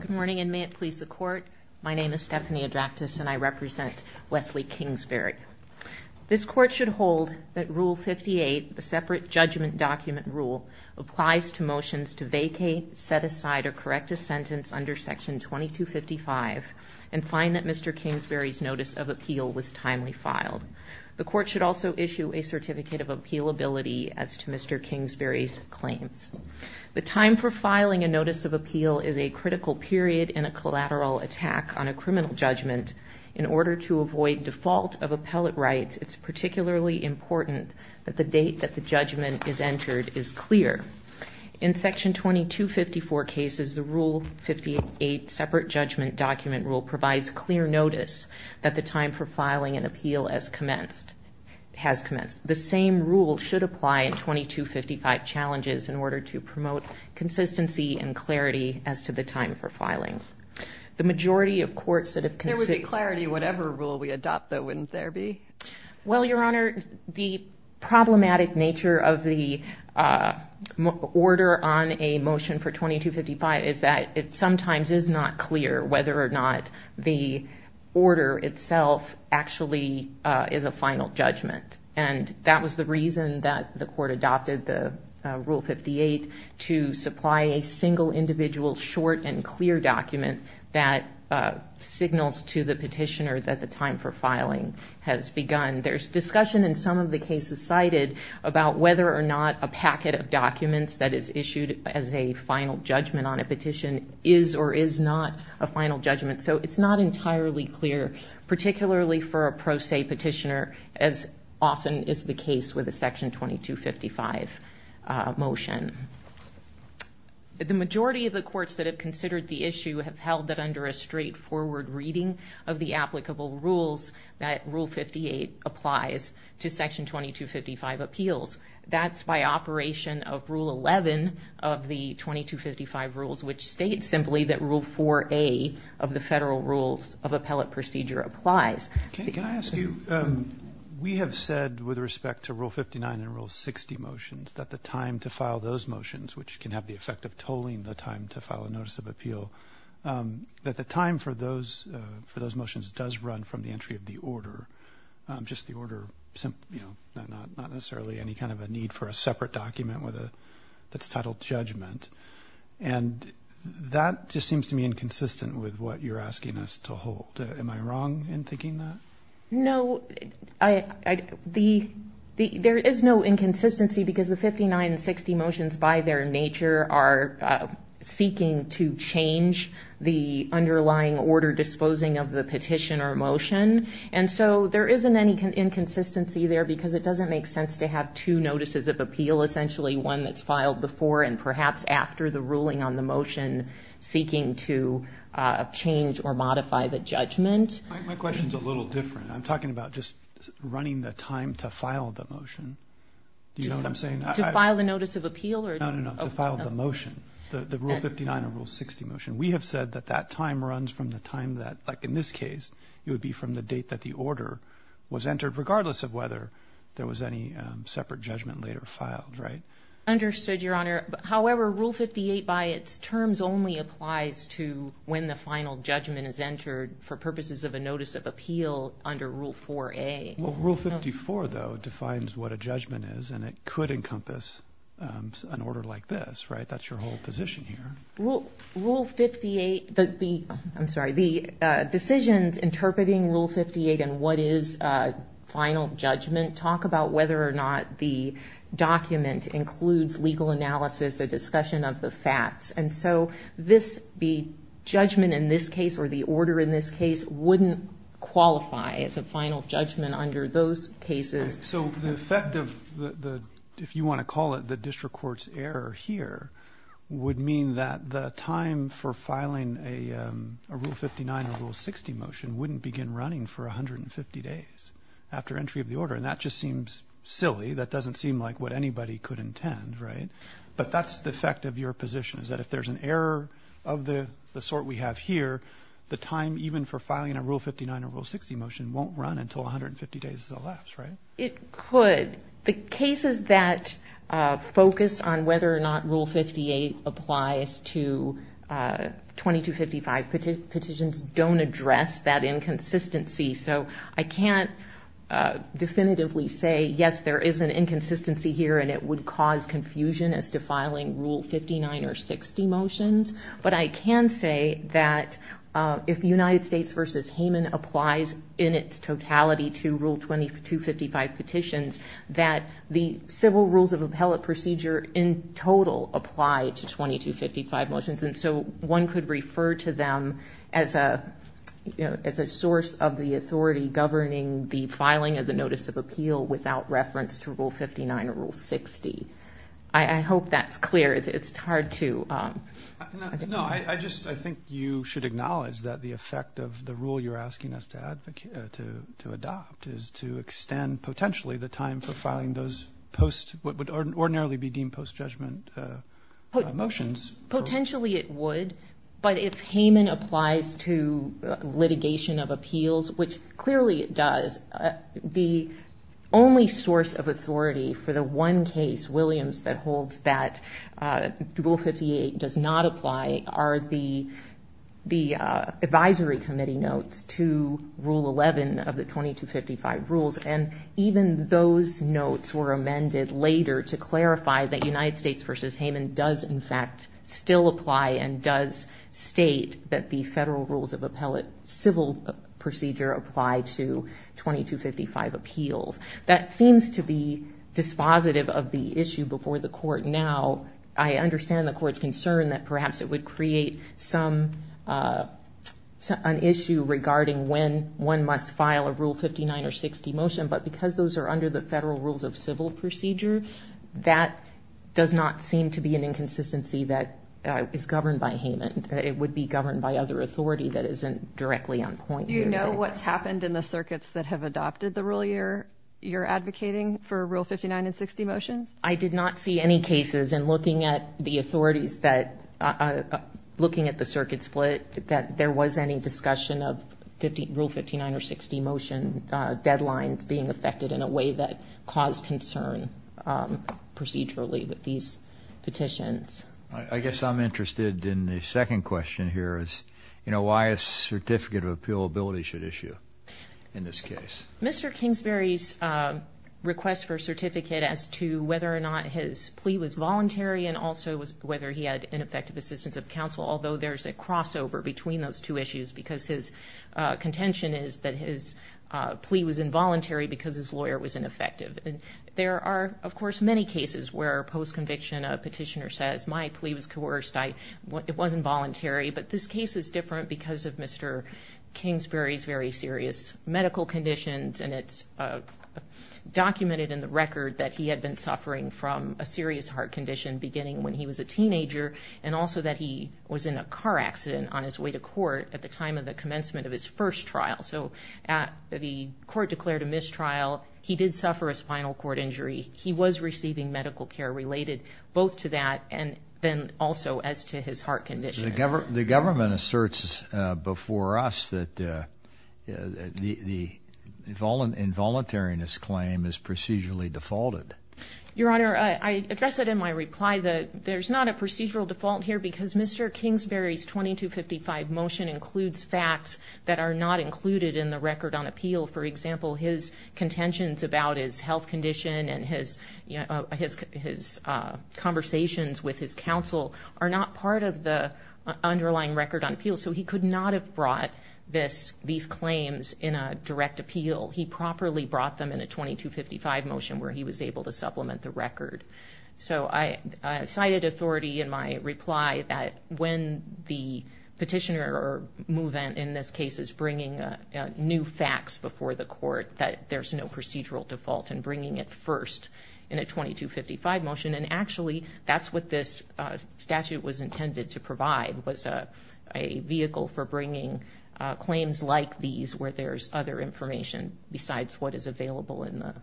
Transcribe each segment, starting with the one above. Good morning and may it please the court, my name is Stephanie Adractis and I represent Wesley Kingsbury. This court should hold that rule 58, the separate judgment document rule, applies to motions to vacate, set aside, or correct a sentence under section 2255 and find that Mr. Kingsbury's notice of appeal was timely filed. The court should also issue a certificate of appealability as to Mr. Kingsbury's claims. The time for filing a notice of appeal is a critical period in a collateral attack on a criminal judgment. In order to avoid default of appellate rights, it's particularly important that the date that the judgment is entered is clear. In section 2254 cases, the rule 58 separate judgment document rule provides clear notice that the time for filing an appeal has commenced. The same rule should apply in 2255 challenges in order to promote consistency and clarity as to the time for filing. The majority of courts that have considered... There would be clarity whatever rule we adopt though, wouldn't there be? Well Your Honor, the problematic nature of the order on a motion for 2255 is that it And that was the reason that the court adopted the rule 58 to supply a single individual short and clear document that signals to the petitioner that the time for filing has begun. There's discussion in some of the cases cited about whether or not a packet of documents that is issued as a final judgment on a petition is or is not a final judgment. So it's not entirely clear, particularly for a pro se petitioner, as often is the case with a section 2255 motion. The majority of the courts that have considered the issue have held that under a straightforward reading of the applicable rules that rule 58 applies to section 2255 appeals. That's by operation of rule 11 of the 2255 rules, which states simply that rule 4A of the Federal Rules of Appellate Procedure applies. Okay. Can I ask you, we have said with respect to rule 59 and rule 60 motions that the time to file those motions, which can have the effect of tolling the time to file a notice of appeal, that the time for those motions does run from the entry of the order. Just the order, you know, not necessarily any kind of a need for a separate document with a, that's titled judgment. And that just seems to me inconsistent with what you're asking us to hold. Am I wrong in thinking that? No, there is no inconsistency because the 59 and 60 motions by their nature are seeking to change the underlying order disposing of the petition or motion. And so there isn't any inconsistency there because it doesn't make sense to have two motions, possibly one that's filed before and perhaps after the ruling on the motion seeking to change or modify the judgment. My question's a little different. I'm talking about just running the time to file the motion. Do you know what I'm saying? To file a notice of appeal or? No, no, no. To file the motion. The rule 59 and rule 60 motion. We have said that that time runs from the time that, like in this case, it would be from the date that the order was entered regardless of whether there was any separate judgment later filed. Right? Understood, Your Honor. However, Rule 58 by its terms only applies to when the final judgment is entered for purposes of a notice of appeal under Rule 4A. Rule 54, though, defines what a judgment is, and it could encompass an order like this, right? That's your whole position here. Rule 58, the, I'm sorry, the decisions interpreting Rule 58 and what is final judgment talk about whether or not the document includes legal analysis, a discussion of the facts. And so this, the judgment in this case or the order in this case wouldn't qualify as a final judgment under those cases. So the effect of the, if you want to call it the district court's error here would mean that the time for filing a Rule 59 or Rule 60 motion wouldn't begin running for 150 days after entry of the order. And that just seems silly. That doesn't seem like what anybody could intend, right? But that's the effect of your position, is that if there's an error of the sort we have here, the time even for filing a Rule 59 or Rule 60 motion won't run until 150 days elapsed, right? It could. The cases that focus on whether or not Rule 58 applies to 2255 petitions don't address that inconsistency. So I can't definitively say, yes, there is an inconsistency here and it would cause confusion as to filing Rule 59 or 60 motions. But I can say that if United States v. Hayman applies in its totality to Rule 2255 petitions, that the civil rules of appellate procedure in total apply to 2255 motions. And so one could refer to them as a source of the authority governing the filing of the Notice of Appeal without reference to Rule 59 or Rule 60. I hope that's clear. It's hard to... No. I just, I think you should acknowledge that the effect of the rule you're asking us to adopt is to extend potentially the time for filing those post, what would ordinarily be deemed post-judgment motions. Potentially it would. But if Hayman applies to litigation of appeals, which clearly it does, the only source of authority for the one case, Williams, that holds that Rule 58 does not apply are the advisory committee notes to Rule 11 of the 2255 rules. And even those notes were amended later to clarify that United States v. Hayman does in fact still apply and does state that the federal rules of appellate civil procedure apply to 2255 appeals. That seems to be dispositive of the issue before the court now. I understand the court's concern that perhaps it would create some, an issue regarding when one must file a Rule 59 or 60 motion. But because those are under the federal rules of civil procedure, that does not seem to be an inconsistency that is governed by Hayman. It would be governed by other authority that isn't directly on point. Do you know what's happened in the circuits that have adopted the rule you're advocating for Rule 59 and 60 motions? I did not see any cases in looking at the authorities that, looking at the circuit split, that there was any discussion of Rule 59 or 60 motion deadlines being affected in a way that caused concern procedurally with these petitions. I guess I'm interested in the second question here is, you know, why a certificate of appealability should issue in this case? Mr. Kingsbury's request for a certificate as to whether or not his plea was voluntary and also whether he had ineffective assistance of counsel, although there's a crossover between those two issues because his contention is that his plea was involuntary because his plea was ineffective. And there are, of course, many cases where, post-conviction, a petitioner says, my plea was coerced, it wasn't voluntary. But this case is different because of Mr. Kingsbury's very serious medical conditions and it's documented in the record that he had been suffering from a serious heart condition beginning when he was a teenager and also that he was in a car accident on his way to court at the time of the commencement of his first trial. So the court declared a mistrial. He did suffer a spinal cord injury. He was receiving medical care related both to that and then also as to his heart condition. The government asserts before us that the involuntariness claim is procedurally defaulted. Your Honor, I address it in my reply that there's not a procedural default here because Mr. Kingsbury's 2255 motion includes facts that are not included in the record on appeal. For example, his contentions about his health condition and his conversations with his counsel are not part of the underlying record on appeal. So he could not have brought these claims in a direct appeal. He properly brought them in a 2255 motion where he was able to supplement the record. So I cited authority in my reply that when the petitioner or movement in this case is bringing new facts before the court that there's no procedural default in bringing it first in a 2255 motion and actually that's what this statute was intended to provide was a vehicle for bringing claims like these where there's other information besides what is It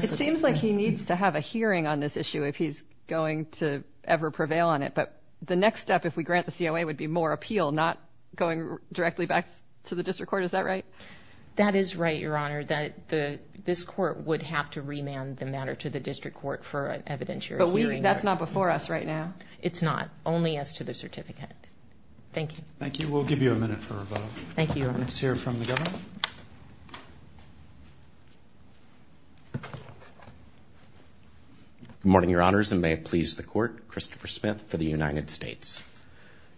seems like he needs to have a hearing on this issue if he's going to ever prevail on it. But the next step if we grant the COA would be more appeal not going directly back to the district court. Is that right? That is right, Your Honor. That this court would have to remand the matter to the district court for an evidentiary hearing. That's not before us right now? It's not. Only as to the certificate. Thank you. Thank you. We'll give you a minute for a vote. Thank you, Your Honor. Let's hear from the government. Good morning, Your Honors, and may it please the court, Christopher Smith for the United States.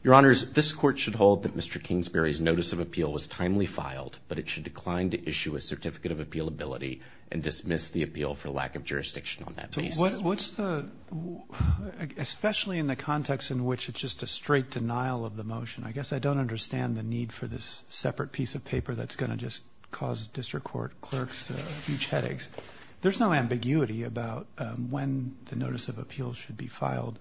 Your Honors, this court should hold that Mr. Kingsbury's notice of appeal was timely filed, but it should decline to issue a certificate of appealability and dismiss the appeal for lack of jurisdiction on that basis. What's the, especially in the context in which it's just a straight denial of the motion, I guess I don't understand the need for this separate piece of paper that's going to just cause district court clerks huge headaches. There's no ambiguity about when the notice of appeal should be filed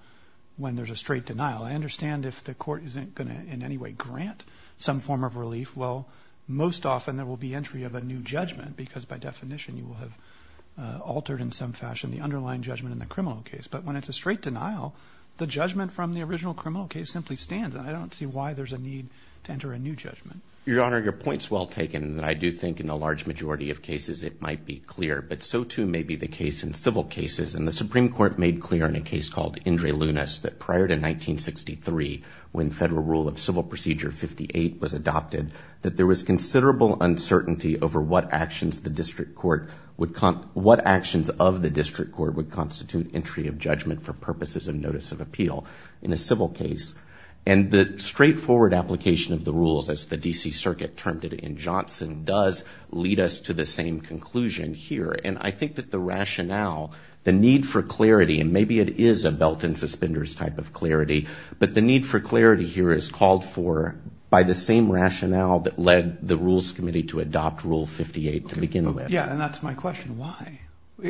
when there's a straight denial. I understand if the court isn't going to in any way grant some form of relief, well, most often there will be entry of a new judgment because by definition you will have altered in some fashion the underlying judgment in the criminal case. But when it's a straight denial, the judgment from the original criminal case simply stands. And I don't see why there's a need to enter a new judgment. Your Honor, your point's well taken, and I do think in the large majority of cases it might be clear. But so too may be the case in civil cases. And the Supreme Court made clear in a case called Indre Lunas that prior to 1963, when Federal Rule of Civil Procedure 58 was adopted, that there was considerable uncertainty over what actions the district court would, what actions of the district court would constitute entry of judgment for purposes of notice of appeal in a civil case. And the straightforward application of the rules as the D.C. Circuit termed it in Johnson does lead us to the same conclusion here. And I think that the rationale, the need for clarity, and maybe it is a belt and suspenders type of clarity, but the need for clarity here is called for by the same rationale that led the Rules Committee to adopt Rule 58 to begin with. Yeah, and that's my question. Why?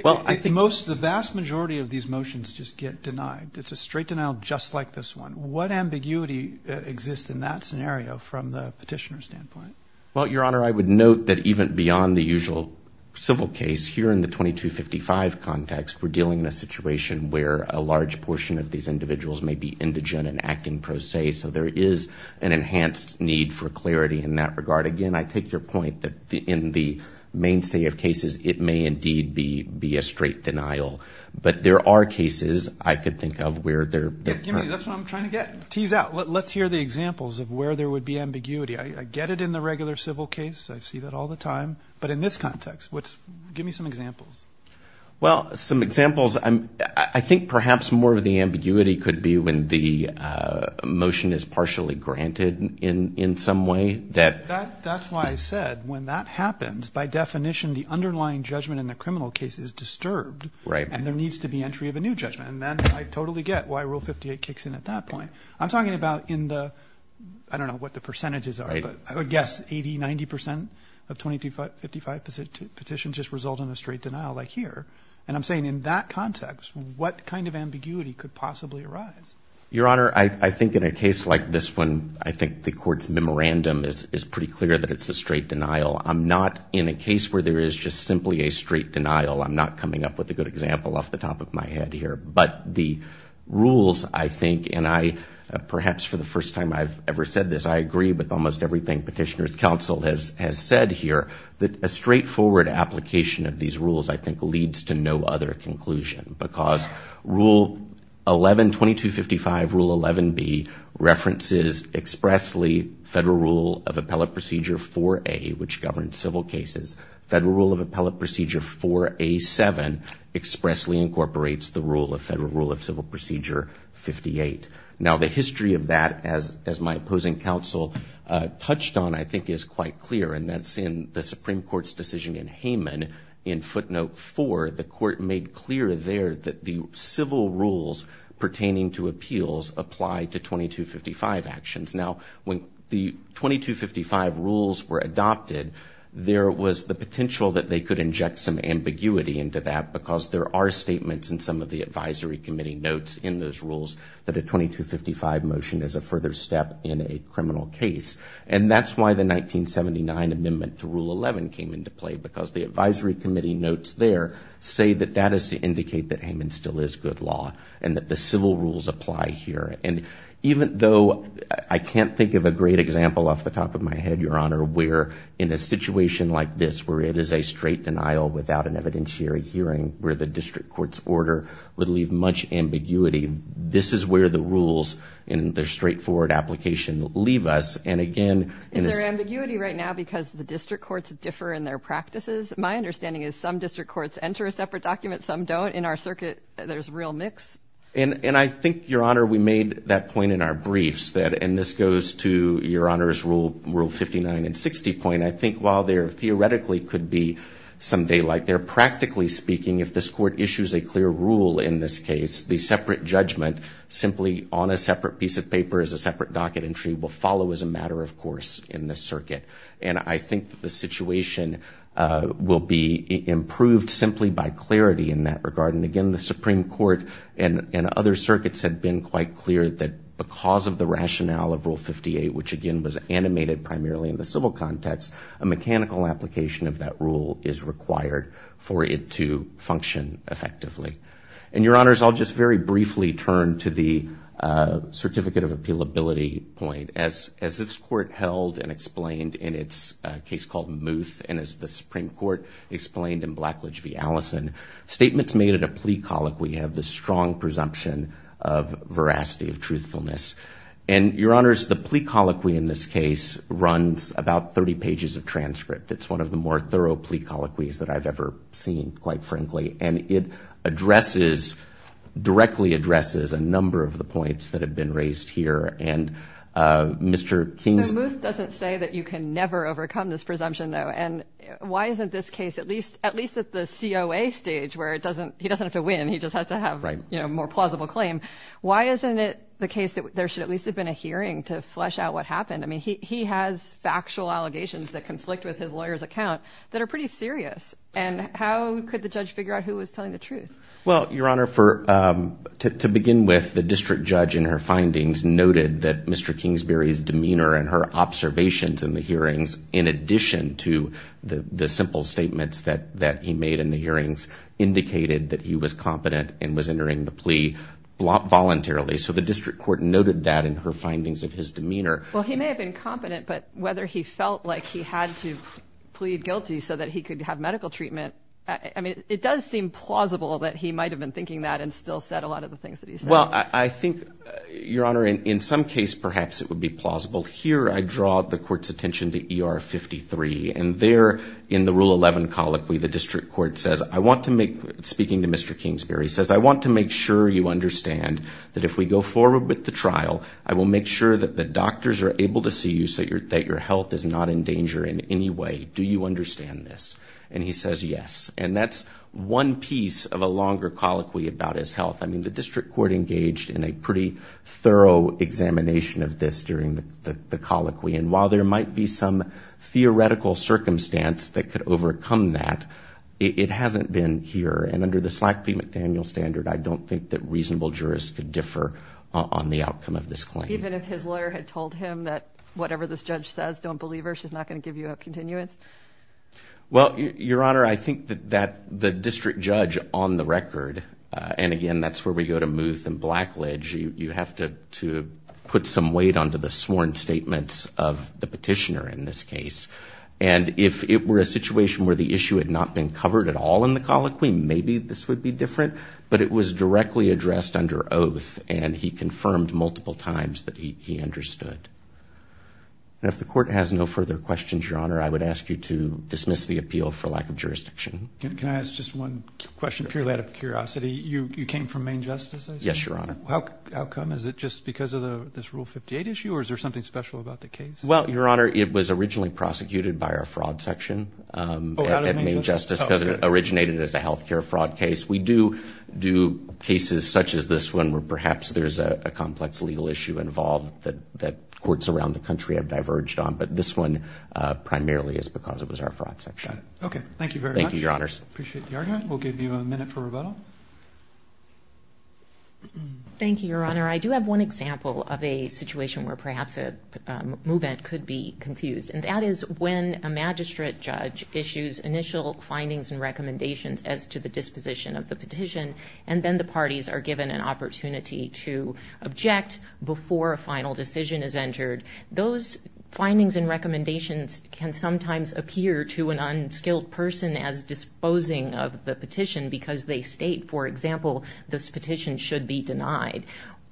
Well, I think most, the vast majority of these motions just get denied. It's a straight denial just like this one. What ambiguity exists in that scenario from the petitioner's standpoint? Well, Your Honor, I would note that even beyond the usual civil case, here in the 2255 context, we're dealing in a situation where a large portion of these individuals may be indigent and acting pro se. So there is an enhanced need for clarity in that regard. Again, I take your point that in the mainstay of cases, it may indeed be a straight denial. But there are cases I could think of where they're- Give me, that's what I'm trying to get. Tease out. Let's hear the examples of where there would be ambiguity. I get it in the regular civil case. I see that all the time. But in this context, give me some examples. Well, some examples, I think perhaps more of the ambiguity could be when the motion is partially granted in some way that- That's why I said when that happens, by definition, the underlying judgment in the criminal case is disturbed. Right. And there needs to be entry of a new judgment. And then I totally get why Rule 58 kicks in at that point. I'm talking about in the, I don't know what the percentages are, but I would guess 80, 90 percent of 2255 petitions just result in a straight denial, like here. And I'm saying in that context, what kind of ambiguity could possibly arise? Your Honor, I think in a case like this one, I think the court's memorandum is pretty clear that it's a straight denial. I'm not in a case where there is just simply a straight denial. I'm not coming up with a good example off the top of my head here. But the rules, I think, and I, perhaps for the first time I've ever said this, I agree with almost everything Petitioner's Counsel has said here. That a straightforward application of these rules, I think, leads to no other conclusion. Because Rule 11, 2255, Rule 11B, references expressly Federal Rule of Appellate Procedure 4A, which governs civil cases. Federal Rule of Appellate Procedure 4A7 expressly incorporates the Federal Rule of Civil Procedure 58. Now, the history of that, as my opposing counsel touched on, I think is quite clear. And that's in the Supreme Court's decision in Hayman in footnote four. The court made clear there that the civil rules pertaining to appeals apply to 2255 actions. Now, when the 2255 rules were adopted, there was the potential that they could inject some ambiguity into that. Because there are statements in some of the advisory committee notes in those rules that a 2255 motion is a further step in a criminal case. And that's why the 1979 amendment to Rule 11 came into play. Because the advisory committee notes there say that that is to indicate that Hayman still is good law. And that the civil rules apply here. And even though I can't think of a great example off the top of my head, Your Honor, where in a situation like this, where it is a straight denial without an evidentiary hearing, where the district court's order would leave much ambiguity, this is where the rules in their straightforward application leave us. And again- Is there ambiguity right now because the district courts differ in their practices? My understanding is some district courts enter a separate document, some don't. In our circuit, there's real mix. And I think, Your Honor, we made that point in our briefs. And this goes to Your Honor's Rule 59 and 60 point. I think while there theoretically could be some daylight there, practically speaking, if this court issues a clear rule in this case, the separate judgment simply on a separate piece of paper as a separate docket entry will follow as a matter of course in this circuit. And I think the situation will be improved simply by clarity in that regard. And again, the Supreme Court and other circuits have been quite clear that because of the rationale of Rule 58, which again was animated primarily in the civil context, a mechanical application of that rule is required for it to function effectively. And Your Honors, I'll just very briefly turn to the certificate of appealability point. As this court held and explained in its case called Muth, and as the Supreme Court explained in Blackledge v. Allison, statements made at a plea colloquy have the strong presumption of veracity of truthfulness. And Your Honors, the plea colloquy in this case runs about 30 pages of transcript. It's one of the more thorough plea colloquies that I've ever seen, quite frankly. And it addresses, directly addresses a number of the points that have been raised here. And Mr. King's- Why isn't this case, at least at the COA stage, where he doesn't have to win, he just has to have a more plausible claim. Why isn't it the case that there should at least have been a hearing to flesh out what happened? I mean, he has factual allegations that conflict with his lawyer's account that are pretty serious. And how could the judge figure out who was telling the truth? Well, Your Honor, to begin with, the district judge in her findings noted that Mr. Kingsbury's demeanor and her observations in the hearings, in addition to the simple statements that he made in the hearings, indicated that he was competent and was entering the plea voluntarily. So the district court noted that in her findings of his demeanor. Well, he may have been competent, but whether he felt like he had to plead guilty so that he could have medical treatment, I mean, it does seem plausible that he might have been thinking that and still said a lot of the things that he said. Well, I think, Your Honor, in some case, perhaps it would be plausible. Here, I draw the court's attention to ER 53, and there, in the Rule 11 colloquy, the district court says, I want to make, speaking to Mr. Kingsbury, says, I want to make sure you understand that if we go forward with the trial, I will make sure that the doctors are able to see you so that your health is not in danger in any way. Do you understand this? And he says, yes. And that's one piece of a longer colloquy about his health. I mean, the district court engaged in a pretty thorough examination of this during the colloquy. And while there might be some theoretical circumstance that could overcome that, it hasn't been here. And under the Slack v. McDaniel standard, I don't think that reasonable jurists could differ on the outcome of this claim. Even if his lawyer had told him that whatever this judge says, don't believe her, she's not going to give you a continuance? Well, Your Honor, I think that the district judge on the record, and again, that's where we go to mooth and blackledge. You have to put some weight onto the sworn statements of the petitioner in this case. And if it were a situation where the issue had not been covered at all in the colloquy, maybe this would be different. But it was directly addressed under oath, and he confirmed multiple times that he understood. And if the court has no further questions, Your Honor, I would ask you to dismiss the appeal for lack of jurisdiction. Can I ask just one question, purely out of curiosity? You came from Main Justice, I assume? Yes, Your Honor. How come? Is it just because of this Rule 58 issue, or is there something special about the case? Well, Your Honor, it was originally prosecuted by our fraud section at Main Justice, because it originated as a healthcare fraud case. We do do cases such as this one where perhaps there's a complex legal issue involved that courts around the country have diverged on. But this one primarily is because it was our fraud section. Okay, thank you very much. Thank you, Your Honors. Appreciate the argument. We'll give you a minute for rebuttal. Thank you, Your Honor. I do have one example of a situation where perhaps a movement could be confused. And that is when a magistrate judge issues initial findings and recommendations as to the disposition of the petition. And then the parties are given an opportunity to object before a final decision is entered. Those findings and recommendations can sometimes appear to an unskilled person as disposing of the petition because they state, for example, this petition should be denied.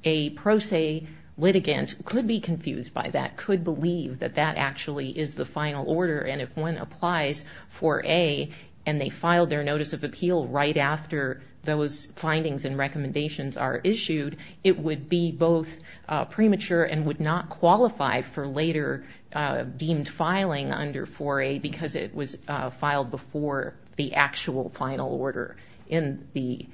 A pro se litigant could be confused by that, could believe that that actually is the final order. And if one applies for A, and they file their notice of appeal right after those findings and recommendations are issued, it would be both premature and would not qualify for later deemed filing under 4A, because it was filed before the actual final order in the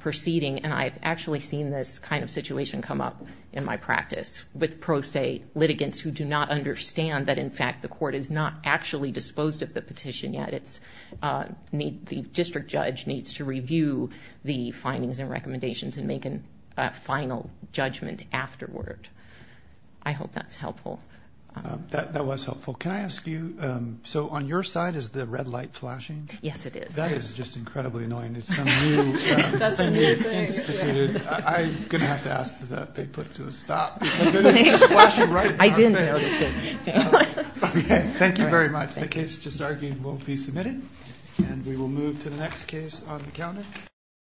proceeding. And I've actually seen this kind of situation come up in my practice with pro se litigants who do not understand that, in fact, the court is not actually disposed of the petition yet. The district judge needs to review the findings and recommendations and make a final judgment afterward. I hope that's helpful. That was helpful. Can I ask you, so on your side is the red light flashing? Yes, it is. That is just incredibly annoying. It's some new thing they've instituted. I'm going to have to ask that they put to a stop because it is just flashing right in front of me. I didn't notice it, exactly. Okay, thank you very much. The case just argued will be submitted, and we will move to the next case on the calendar.